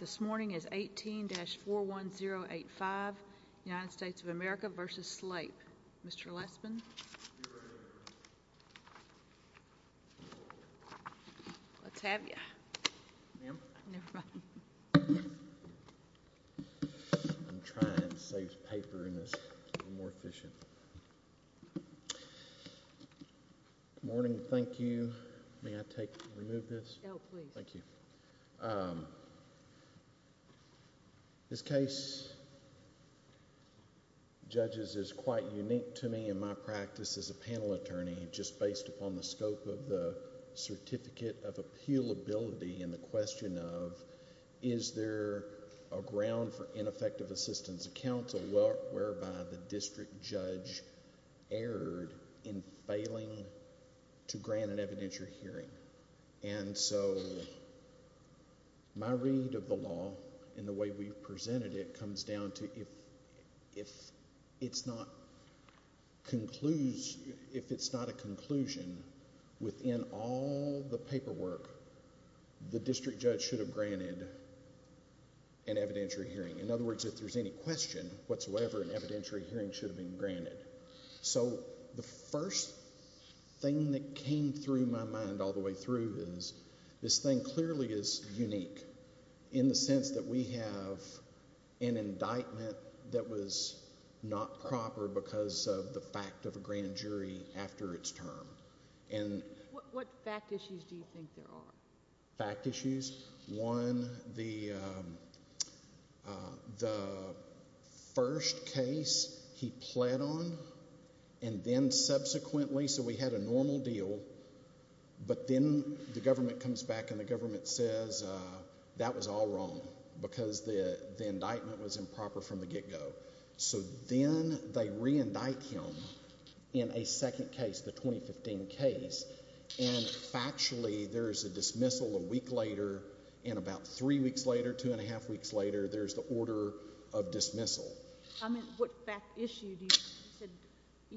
This morning is 18-41085, United States of America v. Slape. Mr. Lespin? Let's have you. Ma'am? Never mind. I'm trying to save paper in this, be more efficient. Good morning, thank you, may I take, remove this? No, please. Thank you. This case, judges, is quite unique to me in my practice as a panel attorney, just based upon the scope of the certificate of appealability and the question of, is there a ground for ineffective assistance of counsel whereby the district judge erred in failing to grant an evidentiary hearing? And so, my read of the law and the way we've presented it comes down to if it's not a conclusion within all the paperwork, the district judge should have granted an evidentiary hearing. In other words, if there's any question whatsoever, an evidentiary hearing should have been granted. So the first thing that came through my mind all the way through is, this thing clearly is unique in the sense that we have an indictment that was not proper because of the fact of a grand jury after its term. What fact issues do you think there are? Fact issues? One, the first case he pled on and then subsequently, so we had a normal deal, but then the government comes back and the government says that was all wrong because the indictment was improper from the get-go. So then, they re-indict him in a second case, the 2015 case, and factually, there's a dismissal a week later and about three weeks later, two and a half weeks later, there's the order of dismissal. I meant, what fact issue do you, you said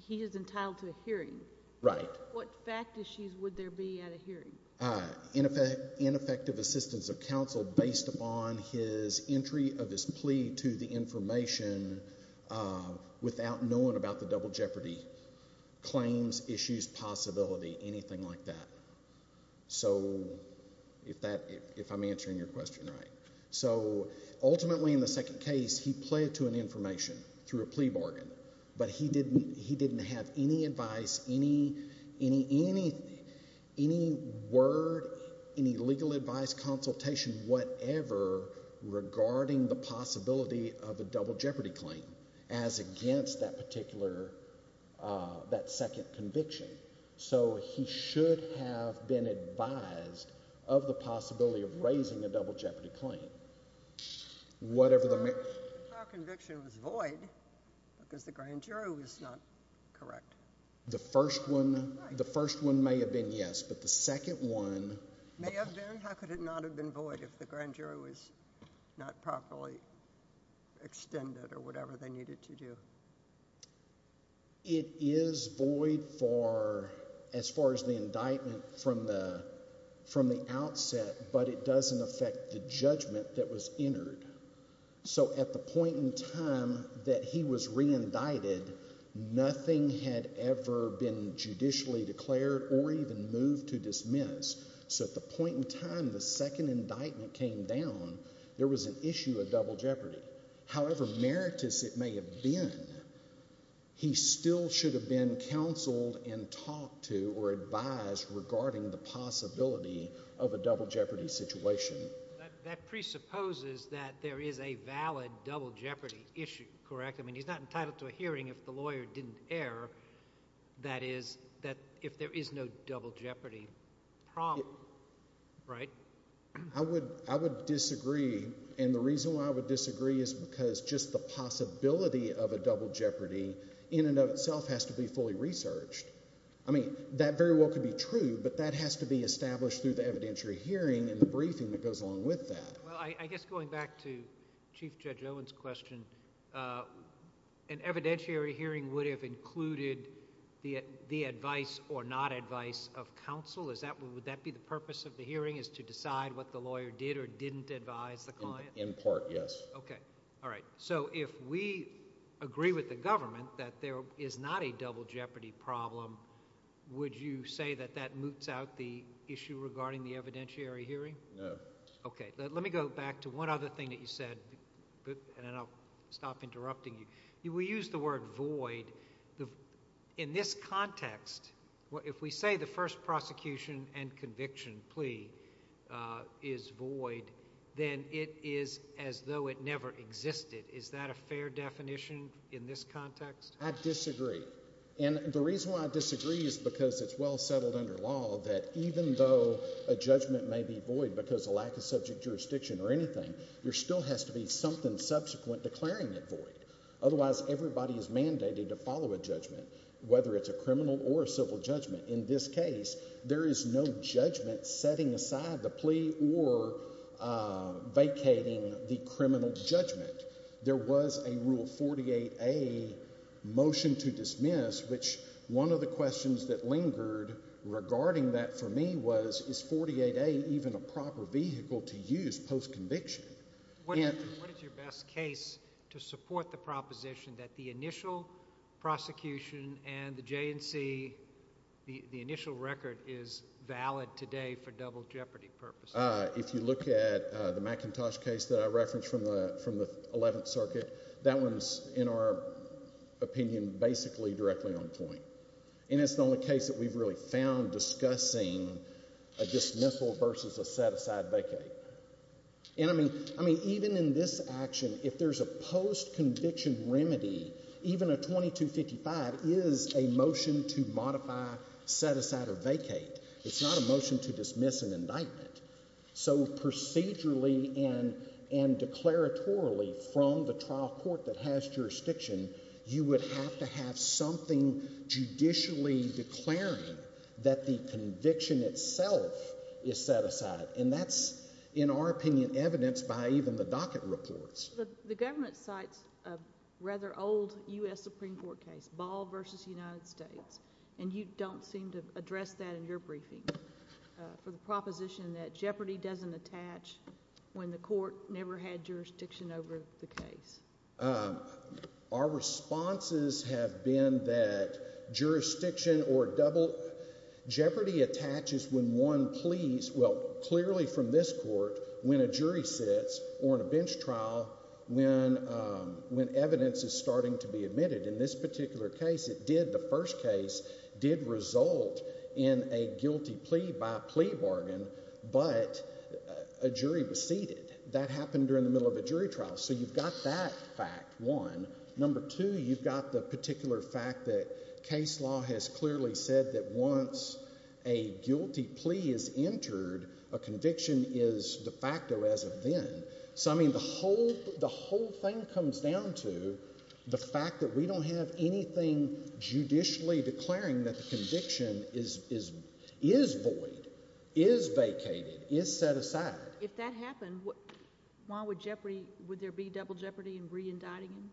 he is entitled to a hearing. Right. What fact issues would there be at a hearing? Ineffective assistance of counsel based upon his entry of his plea to the information without knowing about the double jeopardy, claims, issues, possibility, anything like that. So if I'm answering your question right. So ultimately, in the second case, he pled to an information through a plea bargain, but he didn't have any advice, any word, any legal advice, consultation, whatever, regarding the possibility of a double jeopardy claim as against that particular, that second conviction. So he should have been advised of the possibility of raising a double jeopardy claim. If our conviction was void, because the grand juror was not correct. The first one, the first one may have been yes, but the second one. May have been? How could it not have been void if the grand juror was not properly extended or whatever they needed to do? It is void for, as far as the indictment from the outset, but it doesn't affect the judgment that was entered. So at the point in time that he was re-indicted, nothing had ever been judicially declared or even moved to dismiss. So at the point in time the second indictment came down, there was an issue of double jeopardy. However meritous it may have been, he still should have been counseled and talked to or advised regarding the possibility of a double jeopardy situation. That presupposes that there is a valid double jeopardy issue, correct? I mean, he's not entitled to a hearing if the lawyer didn't err. That is, that if there is no double jeopardy problem, right? I would disagree. And the reason why I would disagree is because just the possibility of a double jeopardy in and of itself has to be fully researched. I mean, that very well could be true, but that has to be established through the evidentiary hearing and the briefing that goes along with that. Well, I guess going back to Chief Judge Owen's question, an evidentiary hearing would have included the advice or not advice of counsel. Would that be the purpose of the hearing is to decide what the lawyer did or didn't advise the client? In part, yes. Okay. All right. So if we agree with the government that there is not a double jeopardy problem, would you say that that moots out the issue regarding the evidentiary hearing? No. Okay. Let me go back to one other thing that you said, and then I'll stop interrupting you. We use the word void. In this context, if we say the first prosecution and conviction plea is void, then it is as though it never existed. Is that a fair definition in this context? I disagree. And the reason why I disagree is because it's well settled under law that even though a judgment may be void because of lack of subject jurisdiction or anything, there still has to be something subsequent declaring it void. Otherwise, everybody is mandated to follow a judgment, whether it's a criminal or a civil judgment. In this case, there is no judgment setting aside the plea or vacating the criminal judgment. There was a Rule 48A motion to dismiss, which one of the questions that lingered regarding that for me was, is 48A even a proper vehicle to use post-conviction? What is your best case to support the proposition that the initial prosecution and the J&C, the initial record, is valid today for double jeopardy purposes? If you look at the McIntosh case that I referenced from the Eleventh Circuit, that one is, in our opinion, basically directly on point. And it's the only case that we've really found discussing a dismissal versus a set-aside vacate. And I mean, even in this action, if there's a post-conviction remedy, even a 2255 is a motion to modify, set aside, or vacate. It's not a motion to dismiss an indictment. So procedurally and declaratorily, from the trial court that has jurisdiction, you would have to have something judicially declaring that the conviction itself is set aside. And that's, in our opinion, evidenced by even the docket reports. The government cites a rather old U.S. Supreme Court case, Ball v. United States, and you don't seem to address that in your briefing, for the proposition that jeopardy doesn't attach when the court never had jurisdiction over the case. Our responses have been that jurisdiction or double jeopardy attaches when one pleads, well, clearly from this court, when a jury sits or in a bench trial, when evidence is starting to be admitted. In this particular case, it did, the first case, did result in a guilty plea by plea bargain, but a jury was seated. That happened during the middle of a jury trial. So you've got that fact, one. Number two, you've got the particular fact that case law has clearly said that once a guilty plea is entered, a conviction is de facto as of then. So, I mean, the whole thing comes down to the fact that we don't have anything judicially declaring that the conviction is void, is vacated, is set aside. If that happened, why would jeopardy, would there be double jeopardy in re-indicting him?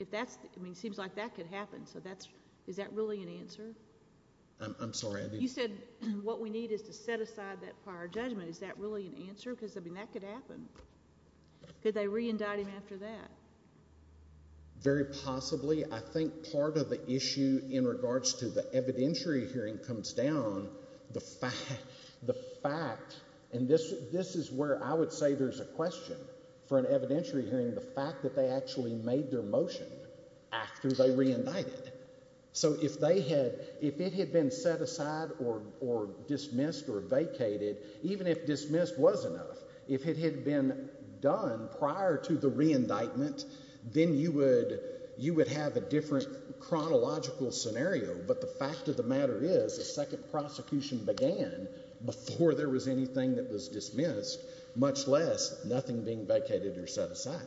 If that's, I mean, it seems like that could happen, so that's, is that really an answer? I'm sorry. You said what we need is to set aside that prior judgment. Is that really an answer? Because, I mean, that could happen. Could they re-indict him after that? Very possibly. I think part of the issue in regards to the evidentiary hearing comes down, the fact, and this is where I would say there's a question for an evidentiary hearing, the fact that they actually made their motion after they re-indicted. So if they had, if it had been set aside or dismissed or vacated, even if dismissed was enough, if it had been done prior to the re-indictment, then you would, you would have a different chronological scenario, but the fact of the matter is a second prosecution began before there was anything that was dismissed, much less nothing being vacated or set aside.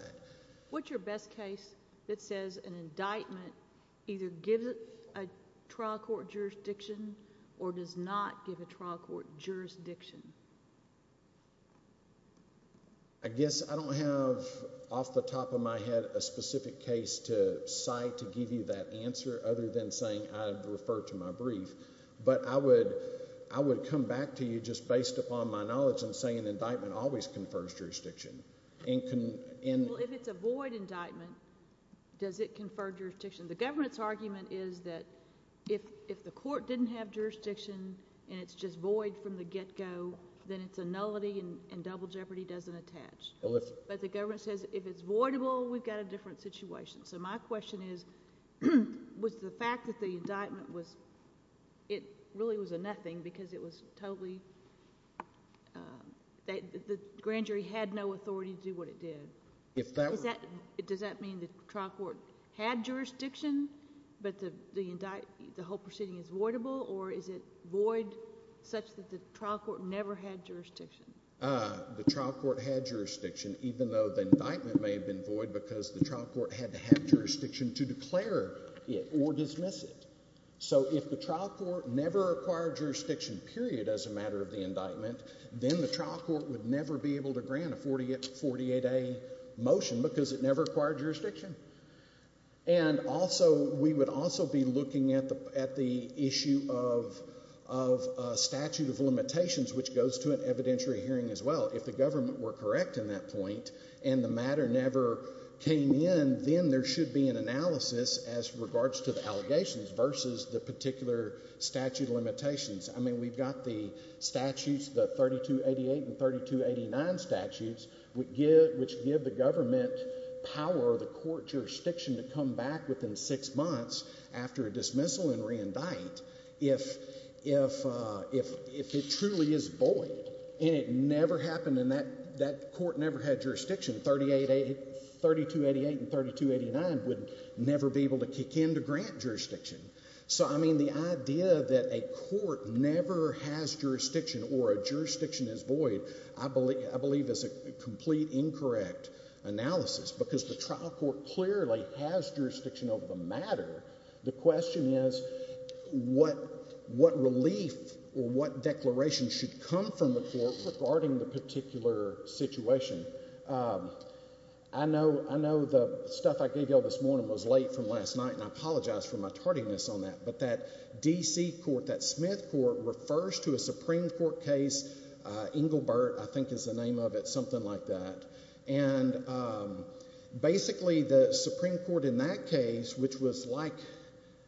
What's your best case that says an indictment either gives a trial court jurisdiction or does not give a trial court jurisdiction? I guess I don't have off the top of my head a specific case to cite to give you that answer other than saying I'd refer to my brief, but I would, I would come back to you just based upon my knowledge and say an indictment always confers jurisdiction. Well, if it's a void indictment, does it confer jurisdiction? The government's argument is that if, if the court didn't have jurisdiction and it's just void from the get-go, then it's a nullity and, and double jeopardy doesn't attach, but the government says if it's voidable, we've got a different situation. So my question is, was the fact that the indictment was, it really was a nothing because it was without authority to do what it did? If that... Does that mean the trial court had jurisdiction, but the indict, the whole proceeding is voidable or is it void such that the trial court never had jurisdiction? The trial court had jurisdiction, even though the indictment may have been void because the trial court had to have jurisdiction to declare it or dismiss it. So if the trial court never acquired jurisdiction, period, as a matter of the indictment, then the trial court would never be able to grant a 48, 48A motion because it never acquired jurisdiction. And also, we would also be looking at the, at the issue of, of a statute of limitations, which goes to an evidentiary hearing as well. If the government were correct in that point and the matter never came in, then there should be an analysis as regards to the allegations versus the particular statute of limitations. I mean, we've got the statutes, the 3288 and 3289 statutes, which give the government power or the court jurisdiction to come back within six months after a dismissal and reindict if, if, if, if it truly is void and it never happened and that, that court never had jurisdiction, 38, 3288 and 3289 would never be able to kick in to grant jurisdiction. So I mean, the idea that a court never has jurisdiction or a jurisdiction is void, I believe, I believe is a complete incorrect analysis because the trial court clearly has jurisdiction over the matter. The question is what, what relief or what declaration should come from the court regarding the particular situation? I know, I know the stuff I gave y'all this morning was late from last night and I apologize for my tardiness on that, but that DC court, that Smith court refers to a Supreme Court case, uh, Engelbert, I think is the name of it, something like that, and, um, basically the Supreme Court in that case, which was like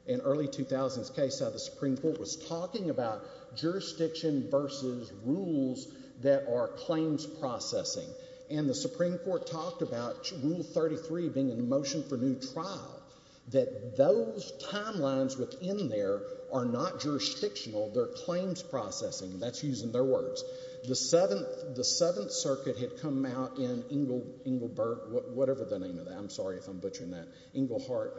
an early 2000s case, how the Supreme Court was talking about jurisdiction versus rules that are claims processing and the Supreme Court said, no, the timelines within there are not jurisdictional, they're claims processing, that's using their words. The 7th, the 7th circuit had come out in Engel, Engelbert, whatever the name of that, I'm sorry if I'm butchering that, Engelhart,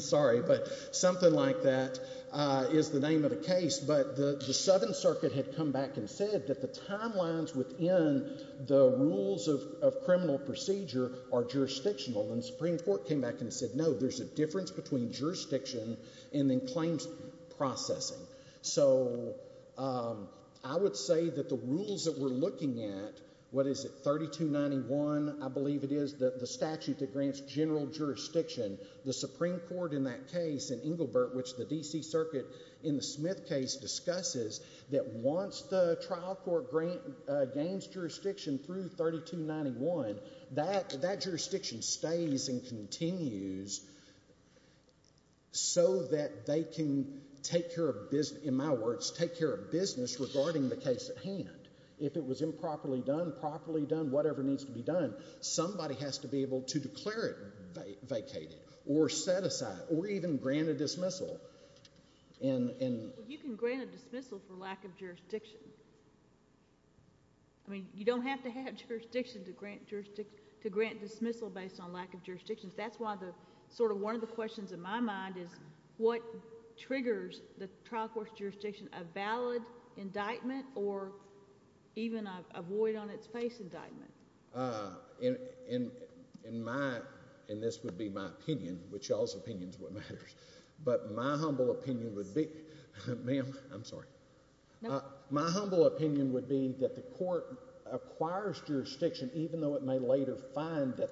sorry, but something like that, uh, is the name of the case. But the, the 7th circuit had come back and said that the timelines within the rules of, of criminal procedure are jurisdictional and the Supreme Court came back and said, no, there's a difference between jurisdiction and then claims processing. So, um, I would say that the rules that we're looking at, what is it, 3291, I believe it is the, the statute that grants general jurisdiction, the Supreme Court in that case in Engelbert, which the DC circuit in the Smith case discusses, that once the trial court grant, uh, gains jurisdiction through 3291, that, that jurisdiction stays and continues so that they can take care of business, in my words, take care of business regarding the case at hand. If it was improperly done, properly done, whatever needs to be done, somebody has to be able to declare it vacated, or set aside, or even grant a dismissal, and, and... You don't have to have jurisdiction to grant jurisdiction, to grant dismissal based on lack of jurisdiction. That's why the, sort of one of the questions in my mind is what triggers the trial court's jurisdiction, a valid indictment or even a void on its face indictment? Uh, in, in, in my, and this would be my opinion, which y'all's opinion is what matters, but my humble opinion would be... Ma'am, I'm sorry. Uh, my humble opinion would be that the court acquires jurisdiction, even though it may later find that,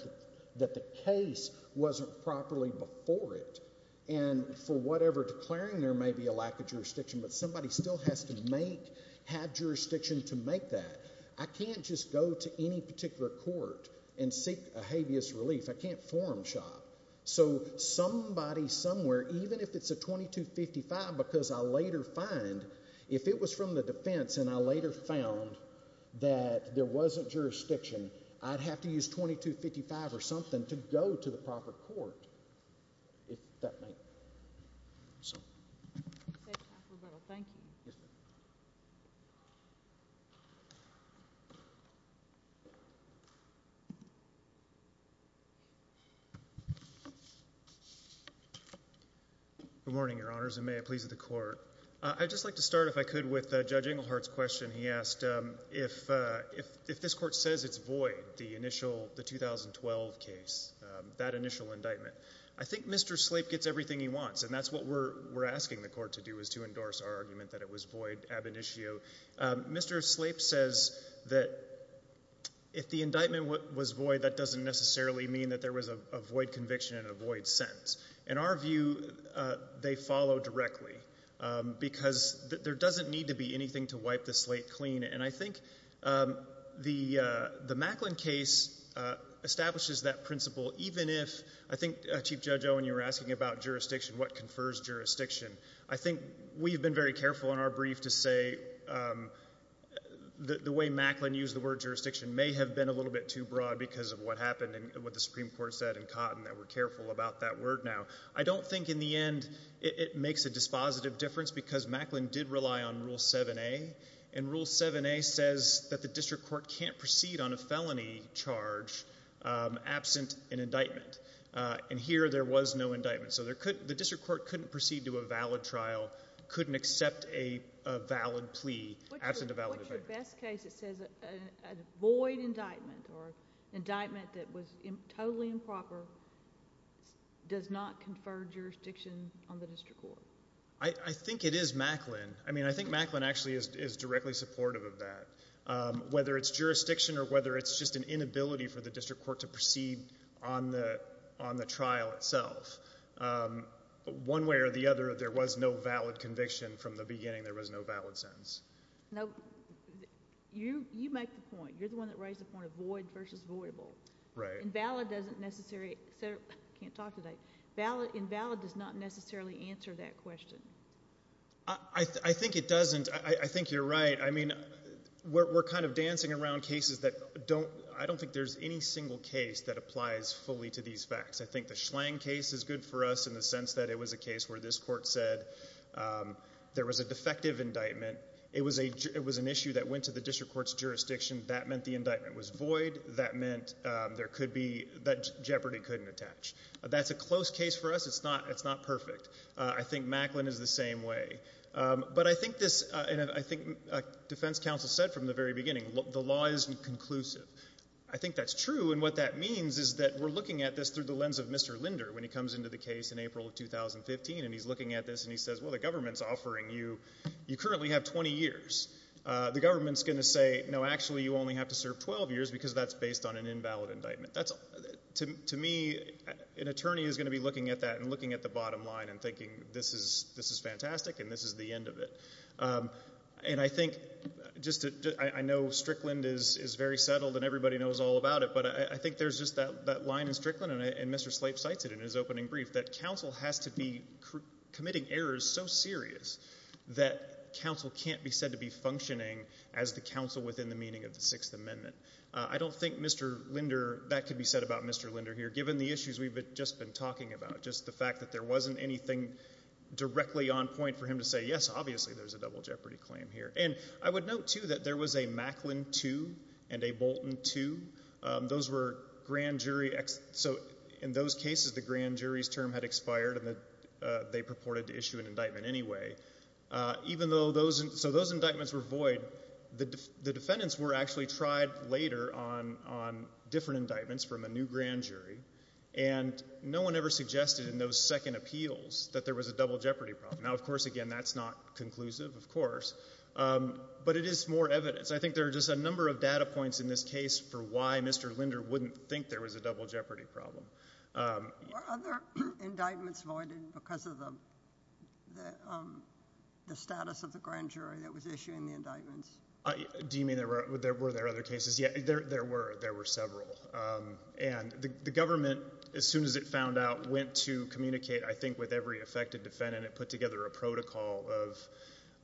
that the case wasn't properly before it, and for whatever declaring there may be a lack of jurisdiction, but somebody still has to make, have jurisdiction to make that. I can't just go to any particular court and seek a habeas relief. I can't forum shop. So, somebody, somewhere, even if it's a 2255, because I later find, if it was from the defense and I later found that there wasn't jurisdiction, I'd have to use 2255 or something to go to the proper court, if that make... So... Good morning, Your Honors, and may it please the court. I'd just like to start, if I could, with Judge Englehart's question. He asked, um, if, uh, if, if this court says it's void, the initial, the 2012 case, um, that initial indictment, I think Mr. Slate gets everything he wants, and that's what we're, we're asking the court to do, is to endorse our argument that it was void ab initio. Um, Mr. Slate says that if the indictment was void, that doesn't necessarily mean that there was a, a void conviction and a void sentence. In our view, uh, they follow directly, um, because there doesn't need to be anything to wipe the slate clean, and I think, um, the, uh, the Macklin case, uh, establishes that principle, even if, I think, uh, Chief Judge Owen, you were asking about jurisdiction, what confers jurisdiction. I think we've been very careful in our brief to say, um, the, the way Macklin used the word jurisdiction may have been a little bit too broad because of what happened and what the Supreme Court said in Cotton, that we're careful about that word now. I don't think in the end it, it makes a dispositive difference because Macklin did rely on Rule 7a, and Rule 7a says that the district court can't proceed on a felony charge, um, absent an indictment. Uh, and here, there was no indictment, so there couldn't, the district court couldn't proceed to a valid trial, couldn't accept a, a valid plea absent a valid indictment. In the best case, it says a, a, a void indictment or an indictment that was totally improper does not confer jurisdiction on the district court. I, I think it is Macklin, I mean, I think Macklin actually is, is directly supportive of that. Um, whether it's jurisdiction or whether it's just an inability for the district court to proceed on the, on the trial itself, um, one way or the other, there was no valid conviction from the beginning. There was no valid sentence. No, you, you make the point, you're the one that raised the point of void versus voidable. Right. Invalid doesn't necessarily, I can't talk today, valid, invalid does not necessarily answer that question. I, I think it doesn't, I, I think you're right. I mean, we're, we're kind of dancing around cases that don't, I don't think there's any single case that applies fully to these facts. I think the Schlang case is good for us in the sense that it was a case where this court said, um, there was a defective indictment. It was a, it was an issue that went to the district court's jurisdiction. That meant the indictment was void. That meant, um, there could be, that jeopardy couldn't attach. That's a close case for us. It's not, it's not perfect. I think Macklin is the same way, um, but I think this, uh, and I think defense counsel said from the very beginning, the law isn't conclusive. I think that's true and what that means is that we're looking at this through the lens of Mr. Linder. When he comes into the case in April of 2015 and he's looking at this and he says, well, the government's offering you, you currently have 20 years, uh, the government's going to say, no, actually you only have to serve 12 years because that's based on an invalid indictment. That's to me, an attorney is going to be looking at that and looking at the bottom line and thinking this is, this is fantastic and this is the end of it. Um, and I think just to, I know Strickland is, is very settled and everybody knows all about it, but I think there's just that, that line in Strickland and I, and Mr. Slate cites it in his opening brief that counsel has to be committing errors so serious that counsel can't be said to be functioning as the counsel within the meaning of the Sixth Amendment. Uh, I don't think Mr. Linder, that could be said about Mr. Linder here, given the issues we've just been talking about, just the fact that there wasn't anything directly on point for him to say, yes, obviously there's a double jeopardy claim here. And I would note too that there was a Macklin 2 and a Bolton 2. Those were grand jury, so in those cases the grand jury's term had expired and they purported to issue an indictment anyway. Uh, even though those, so those indictments were void, the defendants were actually tried later on, on different indictments from a new grand jury and no one ever suggested in those second appeals that there was a double jeopardy problem. Now, of course, again, that's not conclusive, of course, um, but it is more evidence. I think there are just a number of data points in this case for why Mr. Linder wouldn't think there was a double jeopardy problem. Um, yeah. Were other indictments voided because of the, the, um, the status of the grand jury that was issuing the indictments? Do you mean there were, were there other cases? Yeah, there, there were, there were several, um, and the, the government, as soon as it of,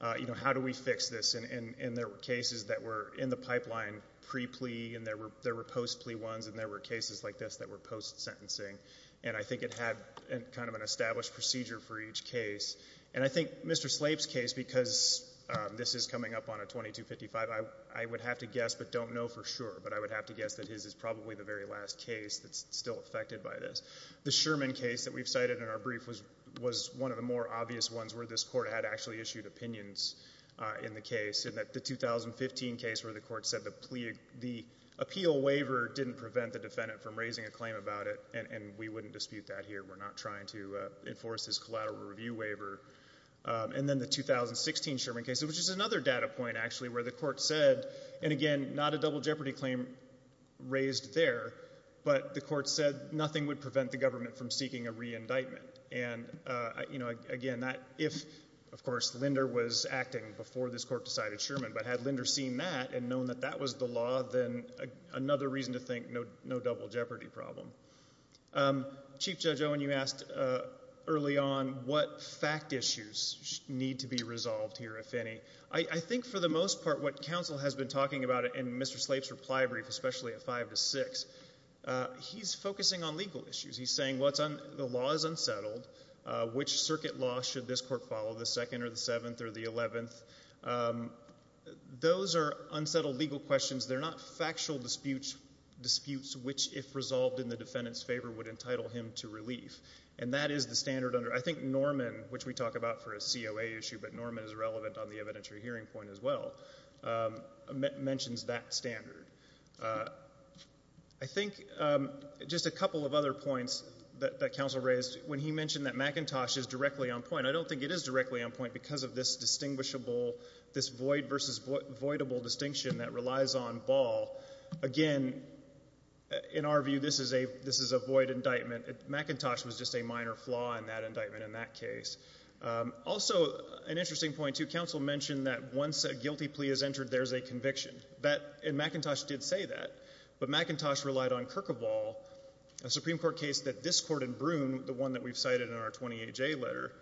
uh, you know, how do we fix this? And, and, and there were cases that were in the pipeline pre-plea and there were, there were post-plea ones and there were cases like this that were post-sentencing. And I think it had kind of an established procedure for each case. And I think Mr. Slape's case, because, um, this is coming up on a 2255, I, I would have to guess, but don't know for sure, but I would have to guess that his is probably the very last case that's still affected by this. The Sherman case that we've cited in our brief was, was one of the more obvious ones where this court had actually issued opinions, uh, in the case and that the 2015 case where the court said the plea, the appeal waiver didn't prevent the defendant from raising a claim about it. And, and we wouldn't dispute that here. We're not trying to, uh, enforce this collateral review waiver. Um, and then the 2016 Sherman case, which is another data point actually, where the court said, and again, not a double jeopardy claim raised there, but the court said nothing would prevent the government from seeking a re-indictment. And, uh, you know, again, that if, of course, Linder was acting before this court decided Sherman, but had Linder seen that and known that that was the law, then another reason to think no, no double jeopardy problem. Um, Chief Judge Owen, you asked, uh, early on what fact issues need to be resolved here, if any. I, I think for the most part, what counsel has been talking about it in Mr. Slape's reply brief, especially at five to six, uh, he's focusing on legal issues. He's saying, well, it's un, the law is unsettled, uh, which circuit law should this court follow, the second or the seventh or the eleventh? Um, those are unsettled legal questions. They're not factual disputes, disputes which, if resolved in the defendant's favor, would entitle him to relief. And that is the standard under, I think Norman, which we talk about for a COA issue, but Norman is relevant on the evidentiary hearing point as well, um, men, mentions that standard. Uh, I think, um, just a couple of other points that, that counsel raised when he mentioned that McIntosh is directly on point. I don't think it is directly on point because of this distinguishable, this void versus void, voidable distinction that relies on Ball. Again, in our view, this is a, this is a void indictment. McIntosh was just a minor flaw in that indictment in that case. Um, also, an interesting point too, counsel mentioned that once a guilty plea is entered, there's a conviction. That, and McIntosh did say that, but McIntosh relied on Kirk of Ball, a Supreme Court case that this court in Broome, the one that we've cited in our 28-J letter,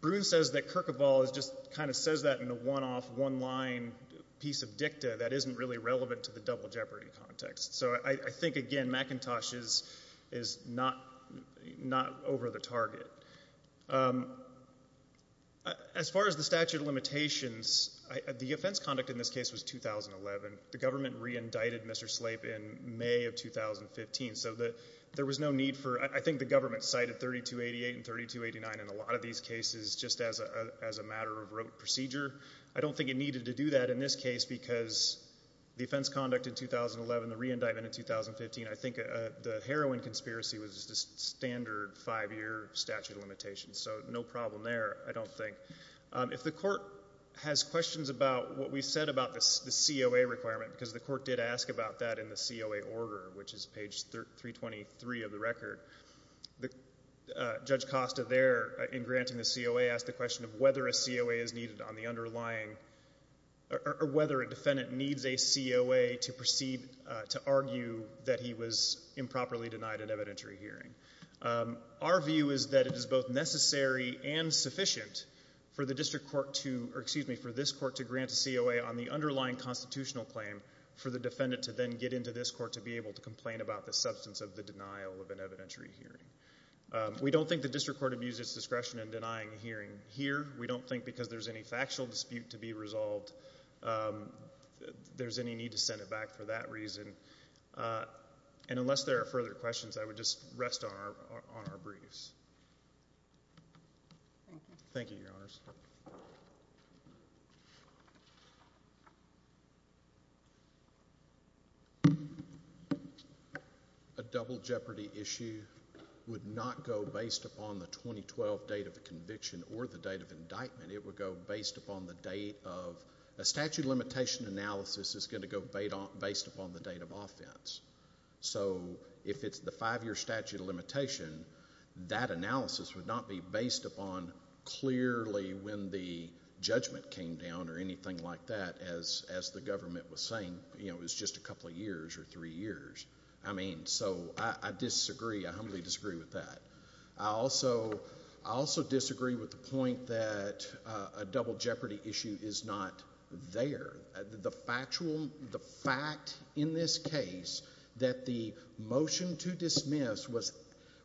Broome says that Kirk of Ball is just, kind of says that in a one-off, one-line piece of dicta that isn't really relevant to the double jeopardy context. So I, I think, again, McIntosh is, is not, not over the target. Um, as far as the statute of limitations, I, the offense conduct in this case was 2011. The government re-indicted Mr. Slate in May of 2015. So the, there was no need for, I think the government cited 3288 and 3289 in a lot of these cases just as a, as a matter of rote procedure. I don't think it needed to do that in this case because the offense conduct in 2011, the re-indictment in 2015, I think, uh, the heroin conspiracy was just a standard five-year statute of limitations. So no problem there, I don't think. Um, if the court has questions about what we said about the, the COA requirement, because the court did ask about that in the COA order, which is page 323 of the record, the, uh, Judge Costa there in granting the COA asked the question of whether a COA is needed on the underlying, or, or whether a defendant needs a COA to proceed, uh, to argue that he was improperly denied an evidentiary hearing. Um, our view is that it is both necessary and sufficient for the district court to, or excuse me, for this court to grant a COA on the underlying constitutional claim for the defendant to then get into this court to be able to complain about the substance of the denial of an evidentiary hearing. Um, we don't think the district court abused its discretion in denying a hearing here. We don't think because there's any factual dispute to be resolved, um, there's any need to send it back for that reason. Uh, and unless there are further questions, I would just rest on our, on our briefs. Thank you, Your Honors. A double jeopardy issue would not go based upon the 2012 date of the conviction or the date of indictment. It would go based upon the date of, a statute of limitation analysis is going to go based upon the date of offense. So if it's the five-year statute of limitation, that analysis would not be based upon clearly when the judgment came down or anything like that as, as the government was saying, you know, it was just a couple of years or three years. I mean, so I, I disagree, I humbly disagree with that. I also, I also disagree with the point that, uh, a double jeopardy issue is not there. The factual, the fact in this case that the motion to dismiss was,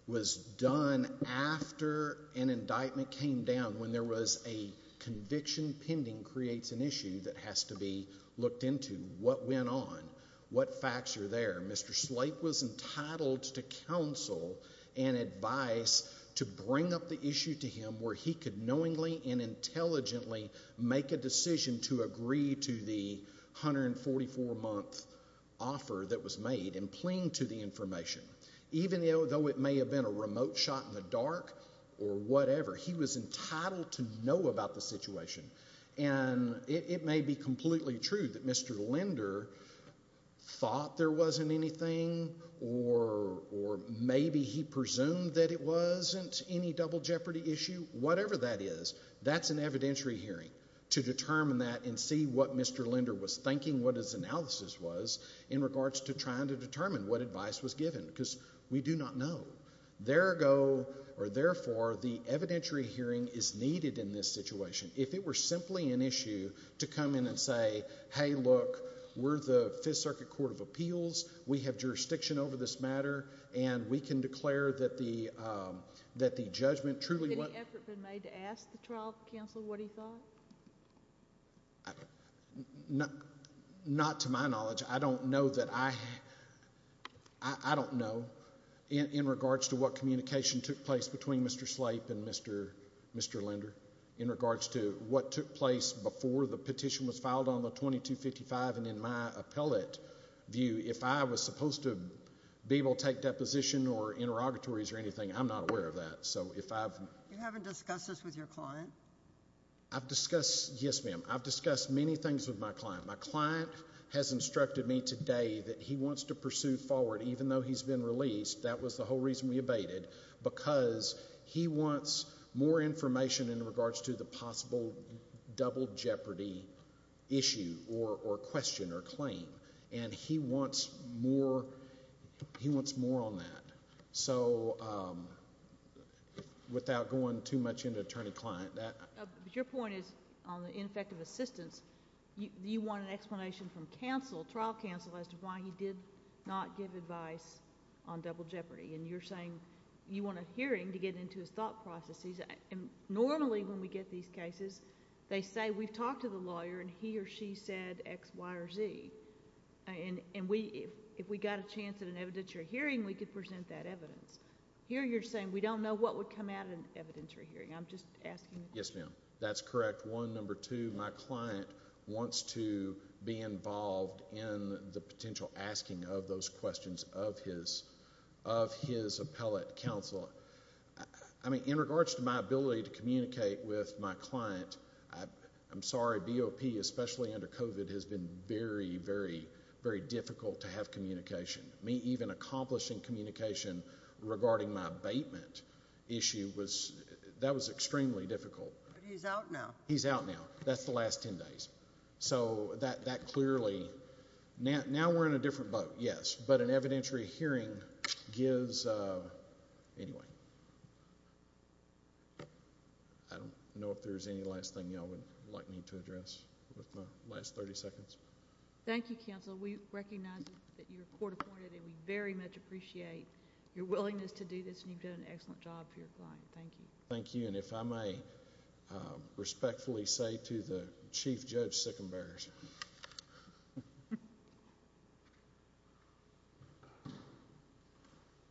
was done after an indictment came down when there was a conviction pending creates an issue that has to be looked into. What went on? What facts are there? Mr. Slate was entitled to counsel and advice to bring up the issue to him where he could knowingly and intelligently make a decision to agree to the 144-month offer that was made and cling to the information. Even though it may have been a remote shot in the dark or whatever, he was entitled to know about the situation and it may be completely true that Mr. Linder thought there wasn't anything or, or maybe he presumed that it wasn't any double jeopardy issue. Whatever that is, that's an evidentiary hearing to determine that and see what Mr. Linder was thinking, what his analysis was in regards to trying to determine what advice was given because we do not know. There go, or therefore, the evidentiary hearing is needed in this situation. If it were simply an issue to come in and say, hey, look, we're the Fifth Circuit Court of Appeals. We have jurisdiction over this matter and we can declare that the, um, that the judgment truly wasn't. Has any effort been made to ask the trial counsel what he thought? Not to my knowledge. I don't know that I, I don't know in, in regards to what communication took place between Mr. Slate and Mr., Mr. Linder in regards to what took place before the petition was filed on the 2255 and in my appellate view, if I was supposed to be able to take deposition or interrogatories or anything, I'm not aware of that. So if I've. You haven't discussed this with your client? I've discussed, yes ma'am, I've discussed many things with my client. My client has instructed me today that he wants to pursue forward, even though he's been released, that was the whole reason we abated, because he wants more information in regards to the possible double jeopardy issue or, or question or claim and he wants more, he wants more on that. So, without going too much into attorney-client, that. Your point is on the ineffective assistance. You want an explanation from counsel, trial counsel, as to why he did not give advice on double jeopardy and you're saying you want a hearing to get into his thought processes and normally when we get these cases, they say we've talked to the lawyer and he or she said X, Y or Z and, and we, if, if we got a chance at an evidentiary hearing, we could present that evidence. Here you're saying we don't know what would come out of an evidentiary hearing. I'm just asking. Yes, ma'am. That's correct. One. Number two, my client wants to be involved in the potential asking of those questions of his, of his appellate counsel. I mean, in regards to my ability to communicate with my client, I, I'm sorry, BOP, especially under COVID has been very, very, very difficult to have communication. Me even accomplishing communication regarding my abatement issue was, that was extremely difficult. But he's out now. He's out now. That's the last 10 days. So, that, that clearly, now, now we're in a different boat, yes, but an evidentiary hearing gives, anyway. I don't know if there's any last thing y'all would like me to address with my last 30 seconds. Thank you, counsel. We recognize that you're court appointed and we very much appreciate your willingness to do this and you've done an excellent job for your client. Thank you. Thank you. And if I may respectfully say to the Chief Judge Sickenbearers.